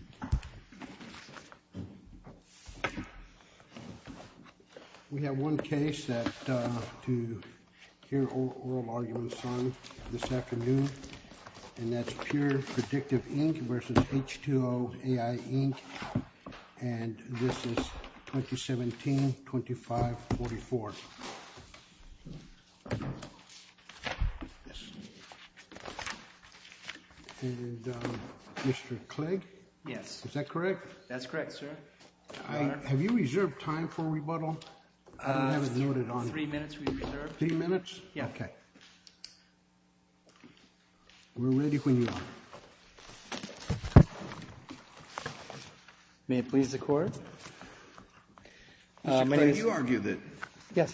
And this is 2017-25-44. We have one case to hear oral arguments on this afternoon, and that's PurePredictive, Inc. v. H2O.AI, Inc. And this is 2017-25-44. We have one case to hear oral arguments on this afternoon, and that's PurePredictive, Inc.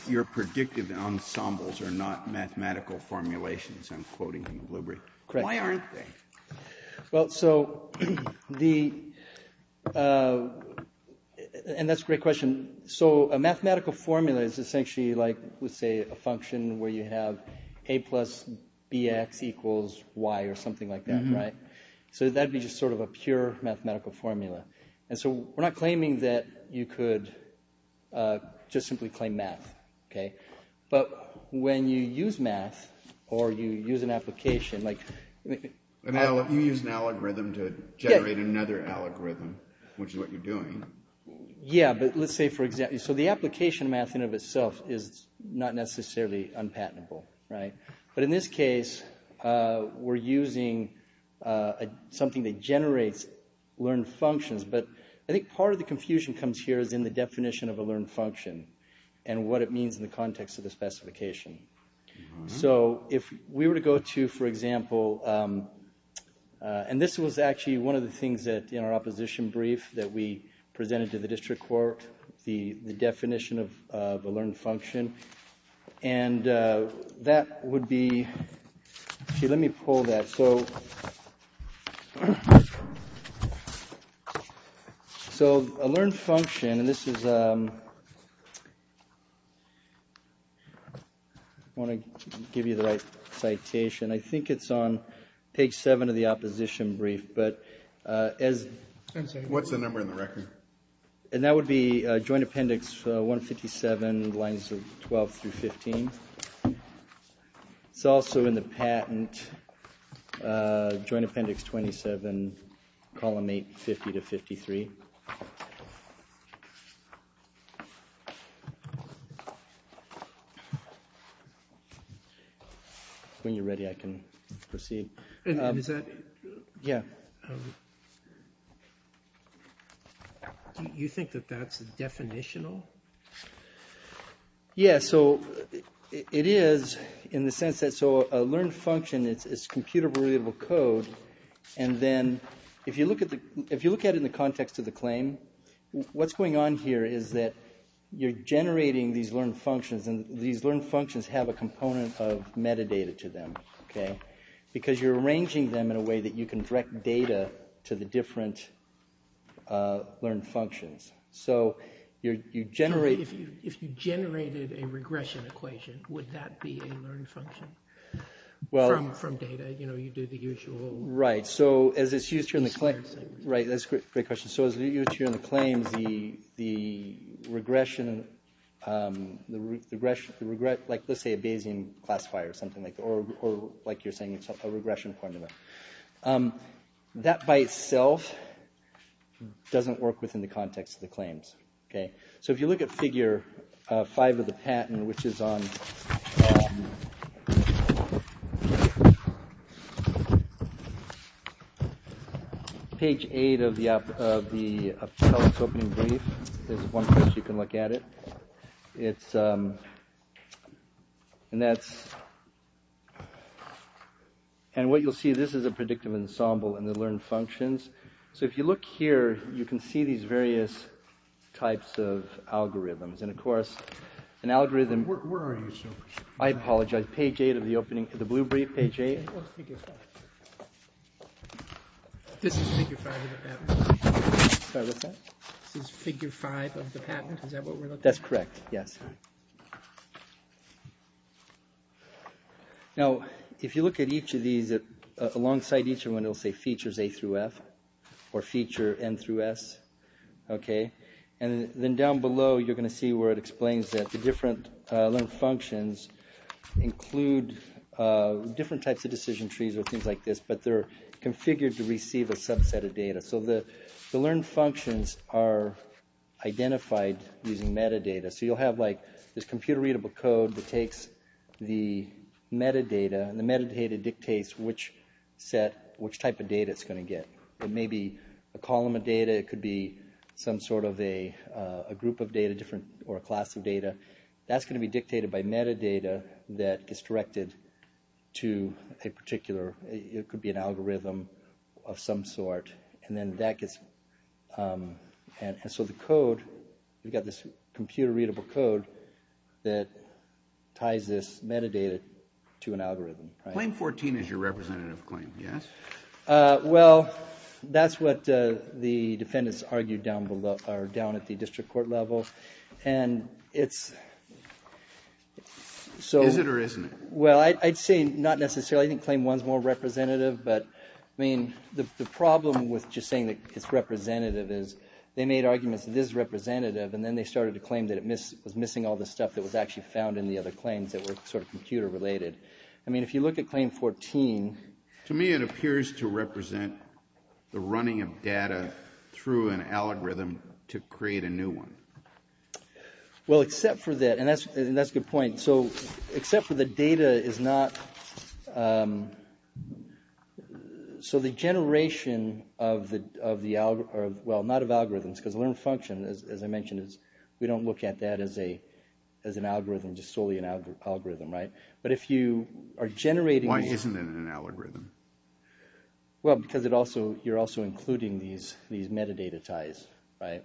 your predictive ensembles are not mathematical formulations, I'm quoting from Blueberry. Why aren't they? Well, so the, and that's a great question. So a mathematical formula is essentially, like, we say a function where you have A plus BX equals Y or something like that, right? So that would be just sort of a pure mathematical formula. And so we're not claiming that you could just simply claim math, okay? But when you use math, or you use an application, like- You use an algorithm to generate another algorithm, which is what you're doing. Yeah, but let's say for example, so the application math in and of itself is not necessarily unpatentable, right? It's just learned functions. But I think part of the confusion comes here is in the definition of a learned function and what it means in the context of the specification. So if we were to go to, for example, and this was actually one of the things that in our opposition brief that we presented to the district court, the definition of a learned function. And that would be, okay, let me pull that. So a learned function, and this is, I want to give you the right citation. I think it's on page seven of the opposition brief, but as- What's the number in the record? And that would be joint appendix 157, lines 12 through 15. It's also in the patent, joint appendix 27, column 8, 50 to 53. When you're ready, I can proceed. Is that- Yeah. Do you think that that's definitional? Yeah, so it is in the sense that, so a learned function, it's computable, readable code. And then if you look at it in the context of the claim, what's going on here is that you're generating these learned functions. And these learned functions have a component of metadata to them, okay? Because you're arranging them in a way that you can direct data to the different learned functions. So you generate- If you generated a regression equation, would that be a learned function? Well- From data, you know, you do the usual- Right, so as it's used here in the claim- Right, that's a great question. So as it's used here in the claims, the regression, like let's say a Bayesian classifier or something like that, or like you're saying, a regression formula. That by itself doesn't work within the context of the claims, okay? So if you look at figure 5 of the patent, which is on page 8 of the opening brief, there's one page you can look at it. It's- And that's- And what you'll see, this is a predictive ensemble and the learned functions. So if you look here, you can see these various types of algorithms. And, of course, an algorithm- Where are you, sir? I apologize. Page 8 of the opening- the blue brief, page 8. What's figure 5? This is figure 5 of the patent. Sorry, what's that? This is figure 5 of the patent. Is that what we're looking at? That's correct, yes. Now, if you look at each of these, alongside each one it'll say features A through F, or feature N through S, okay? And then down below you're going to see where it explains that the different learned functions include different types of decision trees or things like this, but they're configured to receive a subset of data. So the learned functions are identified using metadata. So you'll have, like, this computer-readable code that takes the metadata, and the metadata dictates which set- which type of data it's going to get. It may be a column of data. It could be some sort of a group of data, different- or a class of data. That's going to be dictated by metadata that is directed to a particular- and that gets- and so the code, we've got this computer-readable code that ties this metadata to an algorithm. Claim 14 is your representative claim, yes? Well, that's what the defendants argued down below- or down at the district court level, and it's- Is it or isn't it? Well, I'd say not necessarily. I think claim 1 is more representative, but, I mean, the problem with just saying that it's representative is they made arguments that this is representative, and then they started to claim that it was missing all the stuff that was actually found in the other claims that were sort of computer-related. I mean, if you look at claim 14- To me, it appears to represent the running of data through an algorithm to create a new one. Well, except for that- and that's a good point. So except for the data is not- so the generation of the- well, not of algorithms, because learned function, as I mentioned, we don't look at that as an algorithm, just solely an algorithm, right? But if you are generating- Why isn't it an algorithm? Well, because it also- you're also including these metadata ties, right?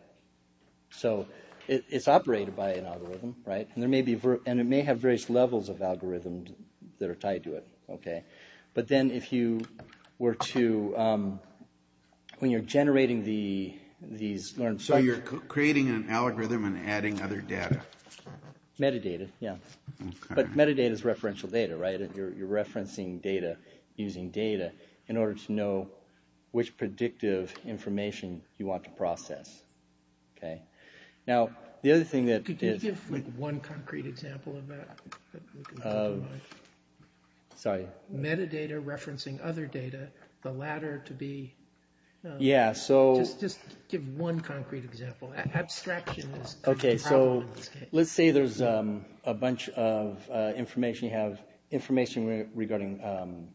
So it's operated by an algorithm, right? And it may have various levels of algorithms that are tied to it, okay? But then if you were to- when you're generating these learned functions- So you're creating an algorithm and adding other data. Metadata, yeah. But metadata is referential data, right? You're referencing data using data in order to know which predictive information you want to process, okay? Now, the other thing that- Just give one concrete example of that. Sorry. Metadata referencing other data, the latter to be- Yeah, so- Just give one concrete example. Abstraction is the problem in this case. Okay, so let's say there's a bunch of information. You have information regarding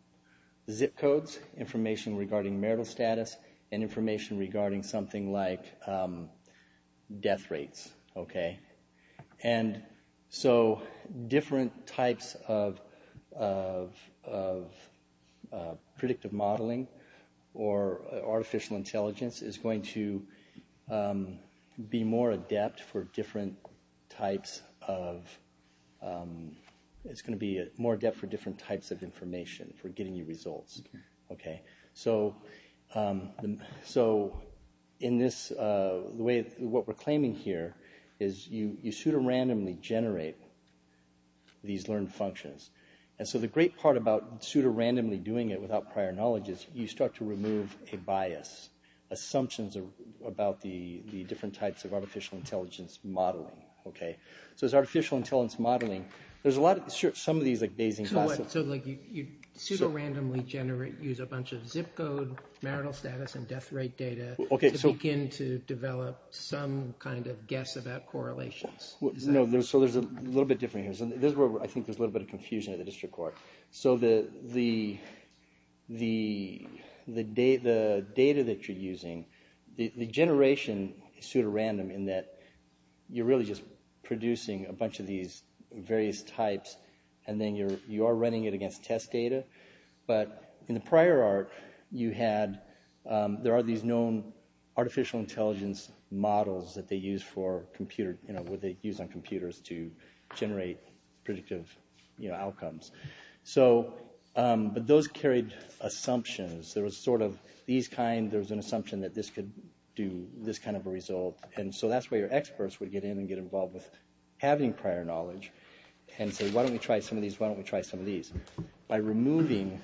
zip codes, information regarding marital status, and information regarding something like death rates, okay? And so different types of predictive modeling or artificial intelligence is going to be more adept for different types of- it's going to be more adept for different types of information, for getting you results, okay? So in this- What we're claiming here is you pseudorandomly generate these learned functions. And so the great part about pseudorandomly doing it without prior knowledge is you start to remove a bias, assumptions about the different types of artificial intelligence modeling, okay? So it's artificial intelligence modeling. There's a lot of- Some of these like Bayesian- So what? marital status and death rate data- Okay, so- To begin to develop some kind of guess about correlations. No, so there's a little bit different here. This is where I think there's a little bit of confusion at the district court. So the data that you're using, the generation pseudorandom in that you're really just producing a bunch of these various types, and then you are running it against test data. But in the prior art, you had- There are these known artificial intelligence models that they use on computers to generate predictive outcomes. But those carried assumptions. There was sort of these kind- There was an assumption that this could do this kind of a result. And so that's where your experts would get in and get involved with having prior knowledge and say, why don't we try some of these? Why don't we try some of these? By removing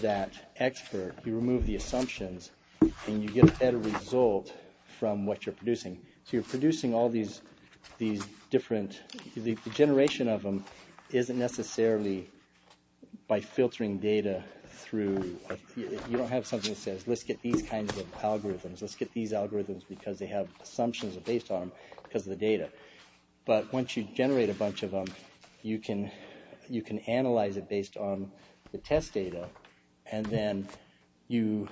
that expert, you remove the assumptions, and you get a better result from what you're producing. So you're producing all these different- The generation of them isn't necessarily by filtering data through- You don't have something that says, let's get these kinds of algorithms. Let's get these algorithms because they have assumptions based on them because of the data. But once you generate a bunch of them, you can analyze it based on the test data. And then you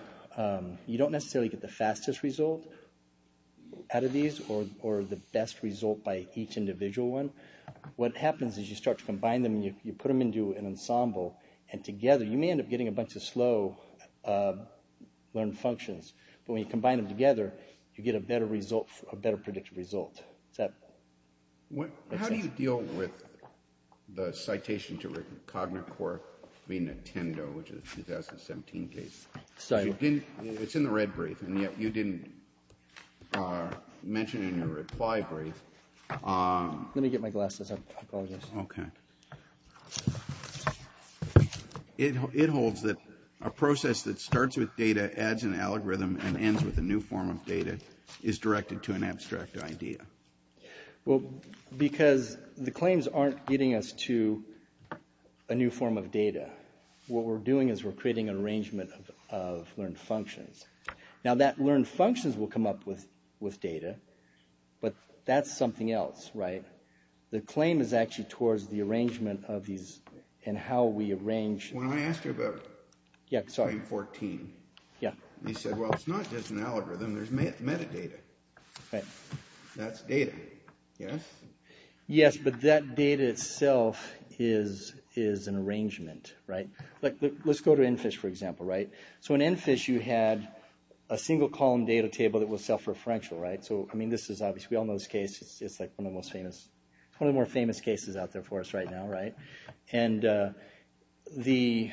don't necessarily get the fastest result out of these or the best result by each individual one. What happens is you start to combine them, and you put them into an ensemble. And together, you may end up getting a bunch of slow learned functions. But when you combine them together, you get a better result, a better predictive result. How do you deal with the citation to written Cognacore v. Nintendo, which is a 2017 case? Sorry. It's in the red brief, and yet you didn't mention it in your reply brief. Let me get my glasses. I apologize. Okay. It holds that a process that starts with data, adds an algorithm, and ends with a new form of data is directed to an abstract idea. Well, because the claims aren't getting us to a new form of data. What we're doing is we're creating an arrangement of learned functions. Now, that learned functions will come up with data, but that's something else, right? The claim is actually towards the arrangement of these and how we arrange them. I asked you about Claim 14. You said, well, it's not just an algorithm. There's metadata. That's data, yes? Yes, but that data itself is an arrangement, right? Let's go to EnFish, for example, right? So in EnFish, you had a single column data table that was self-referential, right? So, I mean, this is obviously, we all know this case. It's like one of the most famous, one of the more famous cases out there for us right now, right? And there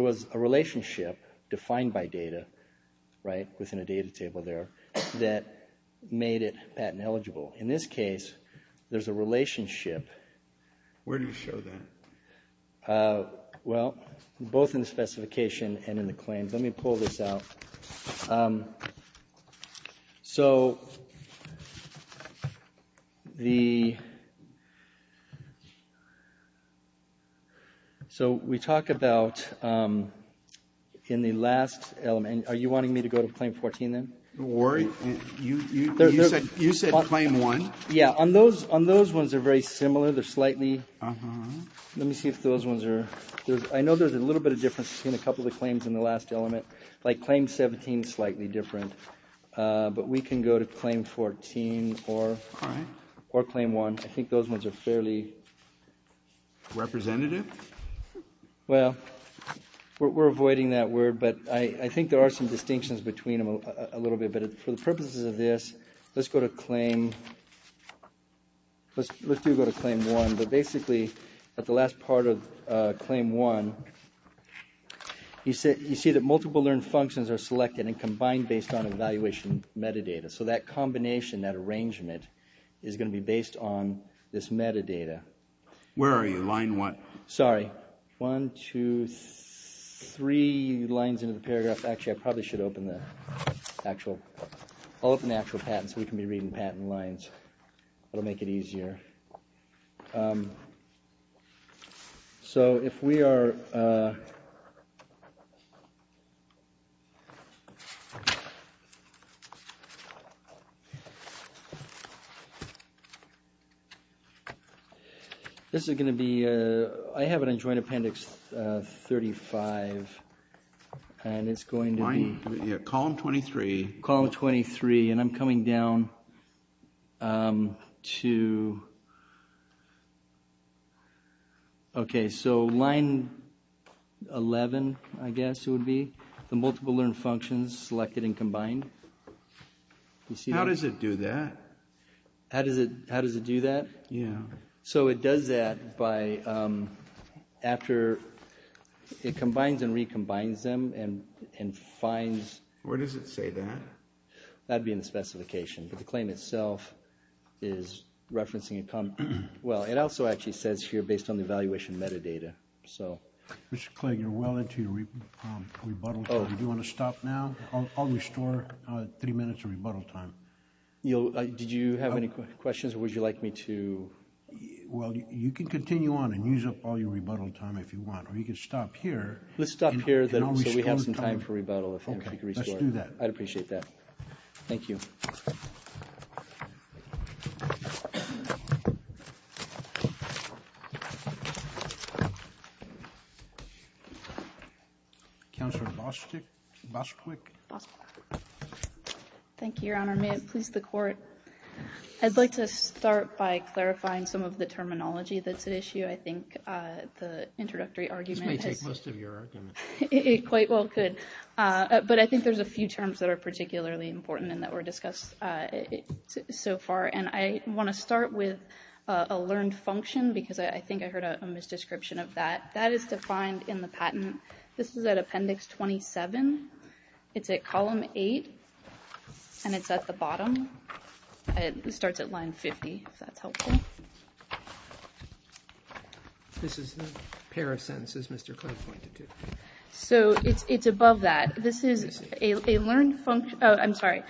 was a relationship defined by data, right, within a data table there that made it patent eligible. In this case, there's a relationship. Where do you show that? Well, both in the specification and in the claims. Let me pull this out. So the, so we talk about in the last element, are you wanting me to go to Claim 14 then? You said Claim 1. Yeah, on those ones, they're very similar. They're slightly, let me see if those ones are, I know there's a little bit of difference between a couple of the claims in the last element. Like Claim 17 is slightly different. But we can go to Claim 14 or Claim 1. I think those ones are fairly. Representative? Well, we're avoiding that word, but I think there are some distinctions between them a little bit. But for the purposes of this, let's go to Claim, let's do go to Claim 1. But basically, at the last part of Claim 1, you see that multiple learned functions are selected and combined based on evaluation metadata. So that combination, that arrangement, is going to be based on this metadata. Where are you? Line what? Sorry. One, two, three lines into the paragraph. Actually, I probably should open the actual, I'll open the actual patent so we can be reading patent lines. It'll make it easier. So if we are. This is going to be, I have an unjoined appendix 35. And it's going to be. Column 23. And I'm coming down to. OK, so line 11, I guess it would be the multiple learned functions selected and combined. How does it do that? How does it how does it do that? Yeah. So it does that by after it combines and recombines them and and finds. Where does it say that? That'd be in the specification. But the claim itself is referencing a, well, it also actually says here based on the evaluation metadata. So. Mr. Clegg, you're well into your rebuttal time. Do you want to stop now? I'll restore three minutes of rebuttal time. Did you have any questions or would you like me to. Well, you can continue on and use up all your rebuttal time if you want. Or you can stop here. Let's stop here. So we have some time for rebuttal. Let's do that. I'd appreciate that. Thank you. Counselor Bostic, Bostic. Thank you, Your Honor. May it please the court. I'd like to start by clarifying some of the terminology that's at issue. I think the introductory argument. This may take most of your argument. It quite well could. But I think there's a few terms that are particularly important and that were discussed so far. And I want to start with a learned function because I think I heard a misdescription of that. That is defined in the patent. This is at Appendix 27. It's at Column 8. And it's at the bottom. It starts at line 50, if that's helpful. This is the pair of sentences Mr. Clegg pointed to. So it's above that. This is a learned function. Oh, I'm sorry.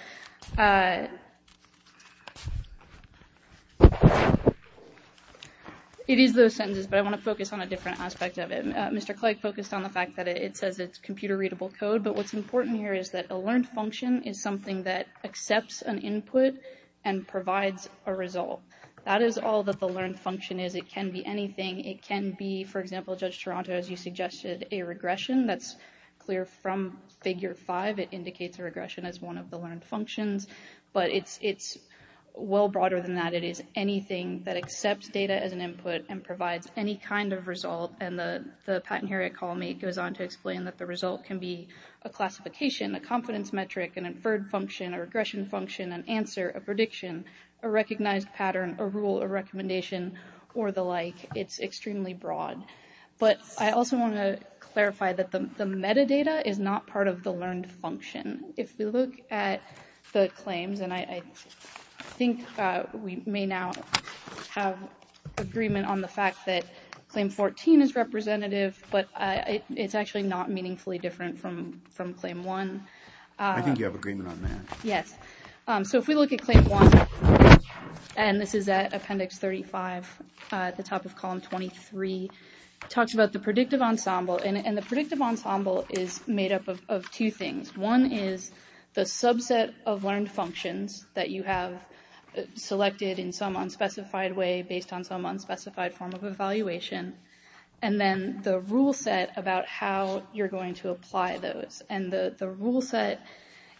It is those sentences, but I want to focus on a different aspect of it. Mr. Clegg focused on the fact that it says it's computer-readable code. But what's important here is that a learned function is something that accepts an input and provides a result. That is all that the learned function is. It can be anything. It can be, for example, Judge Toronto, as you suggested, a regression. That's clear from Figure 5. It indicates a regression as one of the learned functions. But it's well broader than that. It is anything that accepts data as an input and provides any kind of result. And the pattern here at Column 8 goes on to explain that the result can be a classification, a confidence metric, an inferred function, a regression function, an answer, a prediction, a recognized pattern, a rule, a recommendation, or the like. It's extremely broad. But I also want to clarify that the metadata is not part of the learned function. If we look at the claims, and I think we may now have agreement on the fact that Claim 14 is representative, but it's actually not meaningfully different from Claim 1. I think you have agreement on that. Yes. So if we look at Claim 1, and this is at Appendix 35 at the top of Column 23, it talks about the predictive ensemble. And the predictive ensemble is made up of two things. One is the subset of learned functions that you have selected in some unspecified way based on some unspecified form of evaluation, and then the rule set about how you're going to apply those. And the rule set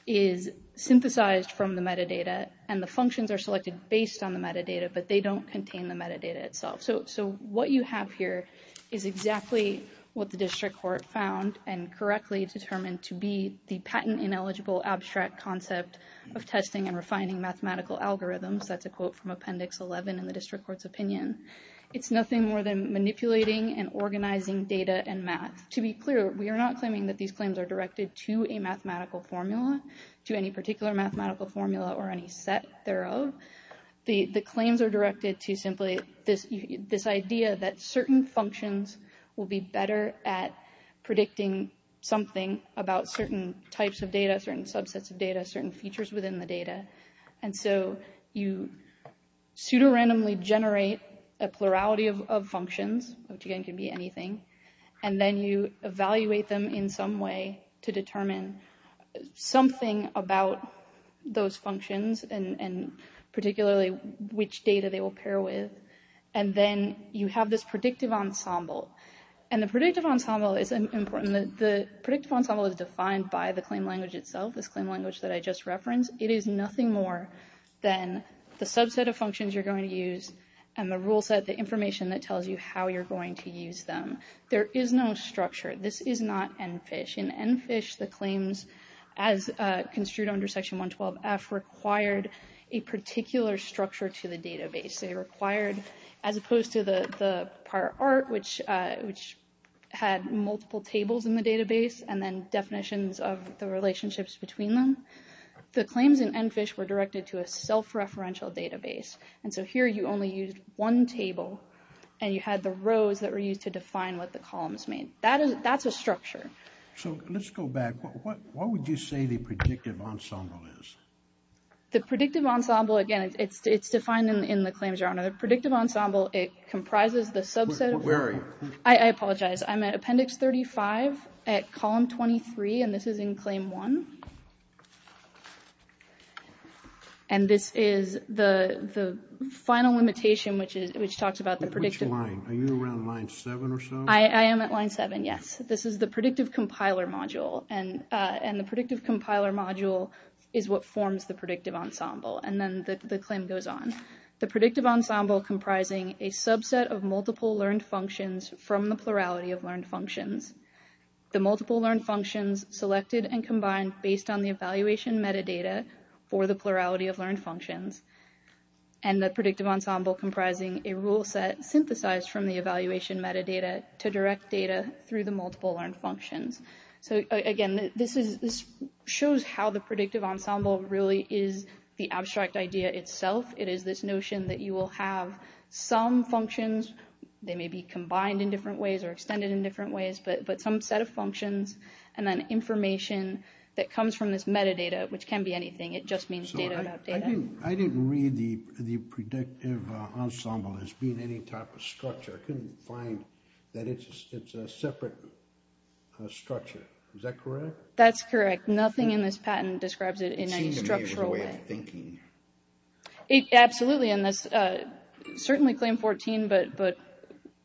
is synthesized from the metadata, and the functions are selected based on the metadata, but they don't contain the metadata itself. So what you have here is exactly what the district court found and correctly determined to be the patent-ineligible abstract concept of testing and refining mathematical algorithms. That's a quote from Appendix 11 in the district court's opinion. It's nothing more than manipulating and organizing data and math. To be clear, we are not claiming that these claims are directed to a mathematical formula, to any particular mathematical formula or any set thereof. The claims are directed to simply this idea that certain functions will be better at predicting something about certain types of data, certain subsets of data, certain features within the data. And so you pseudorandomly generate a plurality of functions, which again can be anything, and then you evaluate them in some way to determine something about those functions, and particularly which data they will pair with. And then you have this predictive ensemble. And the predictive ensemble is important. The predictive ensemble is defined by the claim language itself, this claim language that I just referenced. It is nothing more than the subset of functions you're going to use and the rule set, the information that tells you how you're going to use them. There is no structure. This is not ENFISH. In ENFISH, the claims, as construed under Section 112F, required a particular structure to the database. They required, as opposed to the prior art, which had multiple tables in the database and then definitions of the relationships between them, the claims in ENFISH were directed to a self-referential database. And so here you only used one table, and you had the rows that were used to define what the columns mean. That's a structure. So let's go back. What would you say the predictive ensemble is? The predictive ensemble, again, it's defined in the claims, Your Honor. The predictive ensemble, it comprises the subset of... Where are you? I apologize. I'm at Appendix 35 at Column 23, and this is in Claim 1. And this is the final limitation, which talks about the predictive... Which line? Are you around Line 7 or so? I am at Line 7, yes. This is the predictive compiler module, and the predictive compiler module is what forms the predictive ensemble, and then the claim goes on. The predictive ensemble comprising a subset of multiple learned functions from the plurality of learned functions. The multiple learned functions selected and combined based on the evaluation metadata for the plurality of learned functions. And the predictive ensemble comprising a rule set synthesized from the evaluation metadata to direct data through the multiple learned functions. So, again, this shows how the predictive ensemble really is the abstract idea itself. It is this notion that you will have some functions. They may be combined in different ways or extended in different ways, but some set of functions and then information that comes from this metadata, which can be anything. It just means data about data. I didn't read the predictive ensemble as being any type of structure. I couldn't find that it's a separate structure. Is that correct? That's correct. Nothing in this patent describes it in any structural way. It seems to be a way of thinking. Absolutely. And that's certainly claim 14. But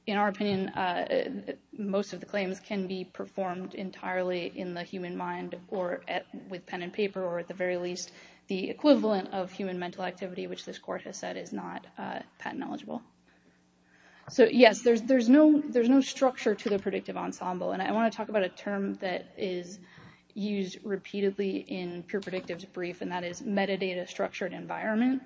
in our opinion, most of the claims can be performed entirely in the human mind or with pen and paper, or at the very least the equivalent of human mental activity, which this court has said is not patent eligible. So, yes, there's there's no there's no structure to the predictive ensemble. And I want to talk about a term that is used repeatedly in pure predictives brief, and that is metadata structured environment,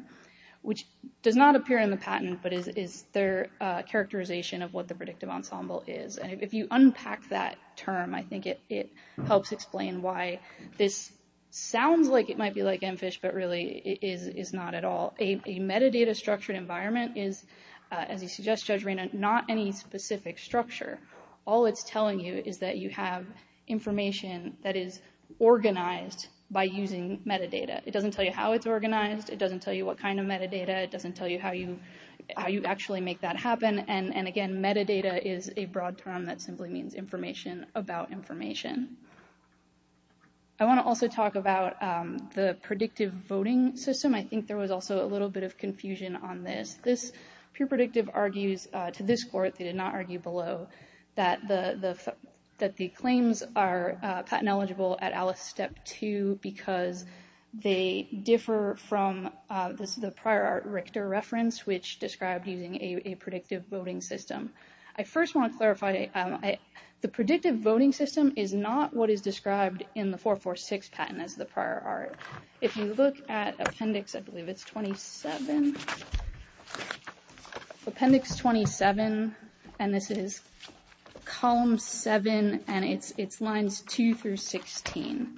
which does not appear in the patent, but is their characterization of what the predictive ensemble is. And if you unpack that term, I think it helps explain why this sounds like it might be like MFISH, but really is not at all. A metadata structured environment is, as you suggest, Judge Raina, not any specific structure. All it's telling you is that you have information that is organized by using metadata. It doesn't tell you how it's organized. It doesn't tell you what kind of metadata. It doesn't tell you how you how you actually make that happen. And again, metadata is a broad term that simply means information about information. I want to also talk about the predictive voting system. I think there was also a little bit of confusion on this. This pre-predictive argues to this court, they did not argue below, that the that the claims are patent eligible at Alice Step 2 because they differ from the prior art Richter reference, which described using a predictive voting system. I first want to clarify the predictive voting system is not what is described in the 446 patent as the prior art. If you look at Appendix, I believe it's 27. Appendix 27, and this is column 7 and it's it's lines 2 through 16.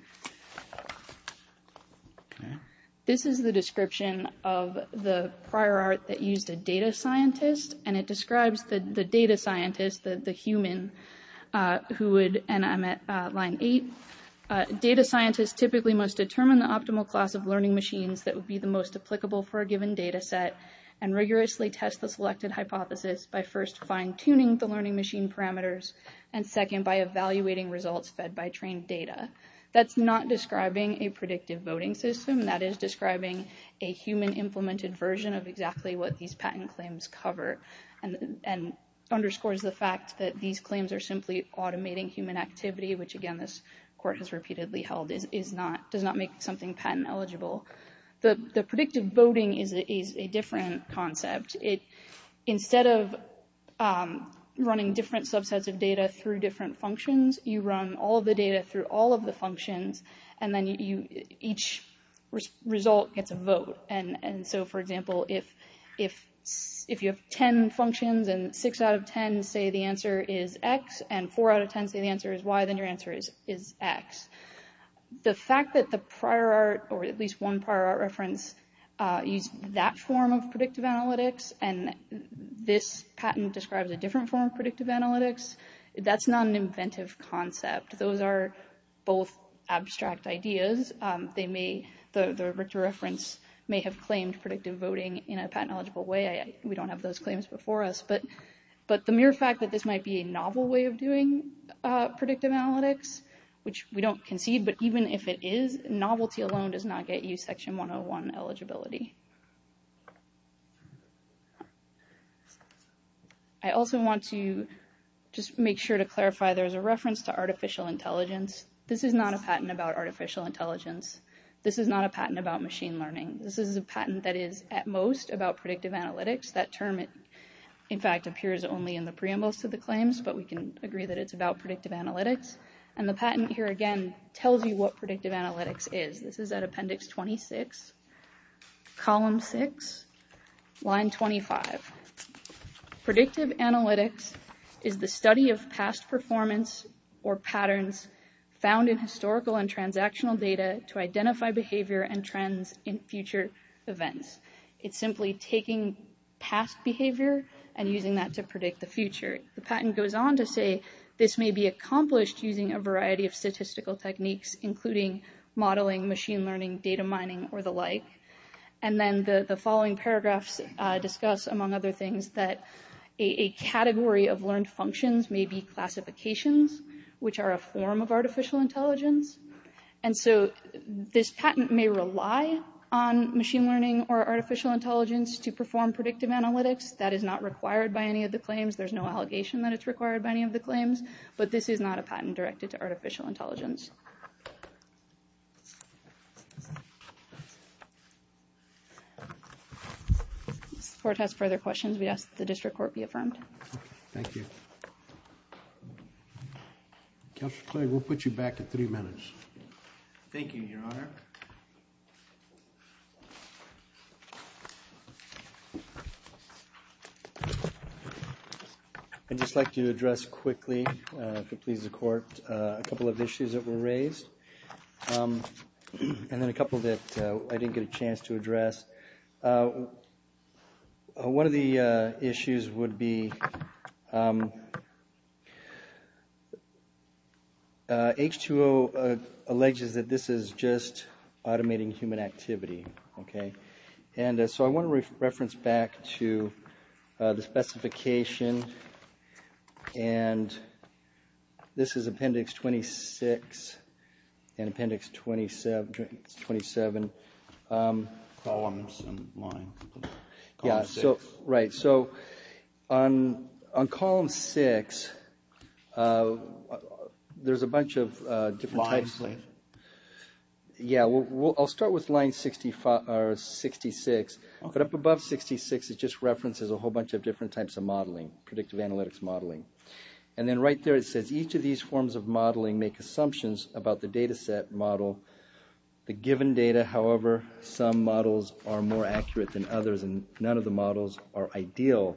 This is the description of the prior art that used a data scientist, and it describes the data scientist, the human who would, and I'm at line 8. Data scientists typically must determine the optimal class of learning machines that would be the most applicable for a given data set and rigorously test the selected hypothesis by first fine tuning the learning machine parameters. And second, by evaluating results fed by trained data. That's not describing a predictive voting system. That is describing a human implemented version of exactly what these patent claims cover. And underscores the fact that these claims are simply automating human activity, which again, this court has repeatedly held is not does not make something patent eligible. The predictive voting is a different concept. It instead of running different subsets of data through different functions, you run all the data through all of the functions and then you each result gets a vote. And so, for example, if if if you have 10 functions and six out of 10 say the answer is X and four out of 10 say the answer is Y, then your answer is is X. The fact that the prior art or at least one prior reference use that form of predictive analytics and this patent describes a different form of predictive analytics. That's not an inventive concept. Those are both abstract ideas. They may the reference may have claimed predictive voting in a patent eligible way. We don't have those claims before us but but the mere fact that this might be a novel way of doing predictive analytics, which we don't concede but even if it is novelty alone does not get you section one on one eligibility. I also want to just make sure to clarify there's a reference to artificial intelligence. This is not a patent about artificial intelligence. This is not a patent about machine learning. This is a patent that is at most about predictive analytics that term. It, in fact, appears only in the preamble to the claims but we can agree that it's about predictive analytics and the patent here again tells you what predictive analytics is. This is an appendix 26 column six line 25 predictive analytics is the study of past performance or patterns found in historical and transactional data to identify behavior and trends in future events. It's simply taking past behavior and using that to predict the future. The patent goes on to say this may be accomplished using a variety of statistical techniques, including modeling machine learning data mining or the like. And then the following paragraphs discuss among other things that a category of learned functions may be classifications, which are a form of artificial intelligence. And so, this patent may rely on machine learning or artificial intelligence to perform predictive analytics that is not required by any of the claims there's no allegation that it's required by any of the claims, but this is not a patent directed to artificial intelligence. This report has further questions we asked the district court be affirmed. Thank you. We'll put you back to three minutes. Thank you, Your Honor. I'd just like to address quickly, if it pleases the court, a couple of issues that were raised. And then a couple that I didn't get a chance to address. One of the issues would be H2O alleges that this is just automating human activity. And so, I want to reference back to the specification and this is Appendix 26 and Appendix 27. Columns and line. Right. So, on Column 6, there's a bunch of different... Lines. Yeah. I'll start with line 65 or 66. But up above 66, it just references a whole bunch of different types of modeling, predictive analytics modeling. And then right there, it says, each of these forms of modeling make assumptions about the data set model. The given data, however, some models are more accurate than others and none of the models are ideal.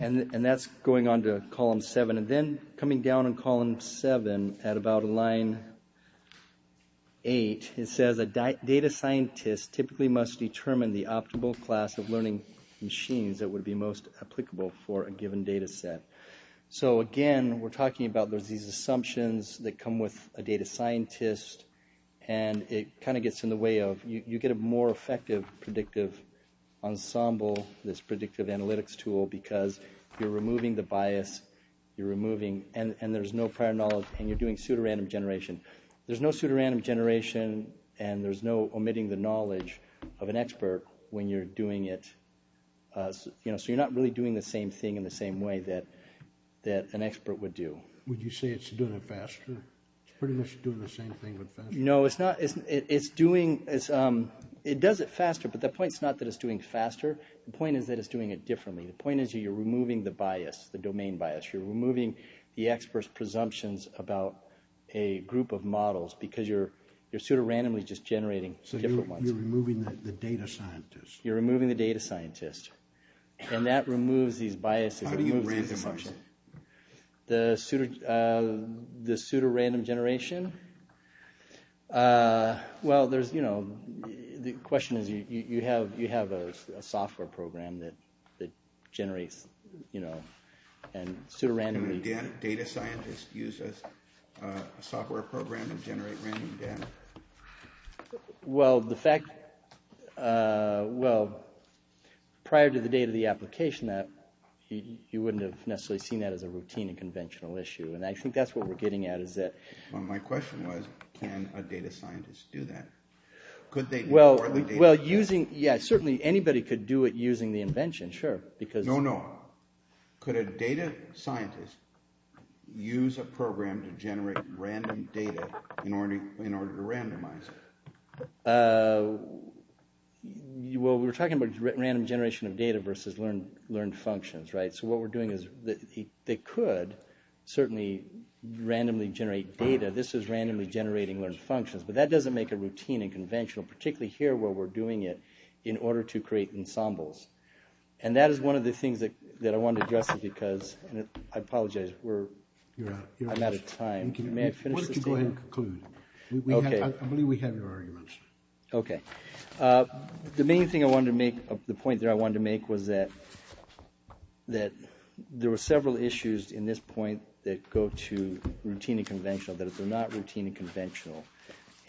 And that's going on to Column 7. And then coming down on Column 7, at about line 8, it says, a data scientist typically must determine the optimal class of learning machines that would be most applicable for a given data set. So, again, we're talking about there's these assumptions that come with a data scientist. And it kind of gets in the way of... You get a more effective predictive ensemble, this predictive analytics tool, because you're removing the bias. You're removing... And there's no prior knowledge and you're doing pseudorandom generation. There's no pseudorandom generation and there's no omitting the knowledge of an expert when you're doing it. So, you're not really doing the same thing in the same way that an expert would do. Would you say it's doing it faster? It's pretty much doing the same thing, but faster. No, it's not. It's doing... It does it faster, but the point is not that it's doing it faster. The point is that it's doing it differently. The point is you're removing the bias, the domain bias. You're removing the expert's presumptions about a group of models because you're pseudorandomly just generating different ones. So, you're removing the data scientist. You're removing the data scientist. And that removes these biases. How do you randomize it? The pseudorandom generation? Well, there's, you know, the question is you have a software program that generates, you know, and pseudorandomly... Data scientist uses a software program to generate random data. Well, the fact... Well, prior to the date of the application, you wouldn't have necessarily seen that as a routine and conventional issue, and I think that's what we're getting at is that... Well, my question was can a data scientist do that? Could they... Well, using... Yeah, certainly anybody could do it using the invention, sure, because... No, no. Could a data scientist use a program to generate random data in order to randomize it? Well, we're talking about random generation of data versus learned functions, right? So, what we're doing is they could certainly randomly generate data. This is randomly generating learned functions, but that doesn't make it routine and conventional, particularly here where we're doing it in order to create ensembles. And that is one of the things that I want to address because... I apologize. We're... You're out. I'm out of time. May I finish this thing? Why don't you go ahead and conclude? Okay. I believe we have your arguments. Okay. The main thing I wanted to make... The point there I wanted to make was that there were several issues in this point that go to routine and conventional, that they're not routine and conventional.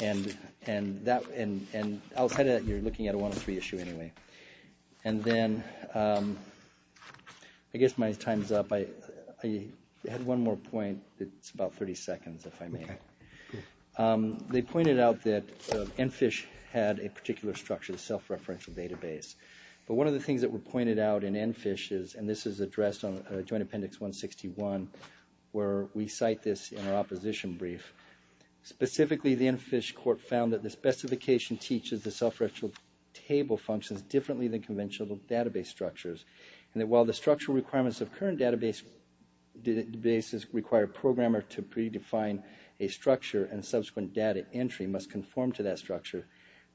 And outside of that, you're looking at a 103 issue anyway. And then, I guess my time's up. I had one more point. It's about 30 seconds, if I may. They pointed out that ENFISH had a particular structure, the self-referential database. But one of the things that were pointed out in ENFISH is, and this is addressed on Joint Appendix 161, where we cite this in our opposition brief. Specifically, the ENFISH court found that the specification teaches the self-referential table functions differently than conventional database structures. And that while the structural requirements of current databases require a programmer to pre-define a structure and subsequent data entry must conform to that structure,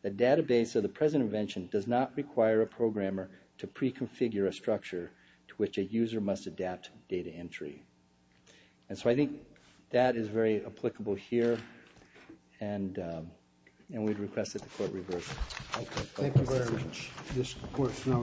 the database of the present invention does not require a programmer to pre-configure a structure to which a user must adapt data entry. And so I think that is very applicable here, and we'd request that the court reverse it. Thank you very much. This court is now in recess.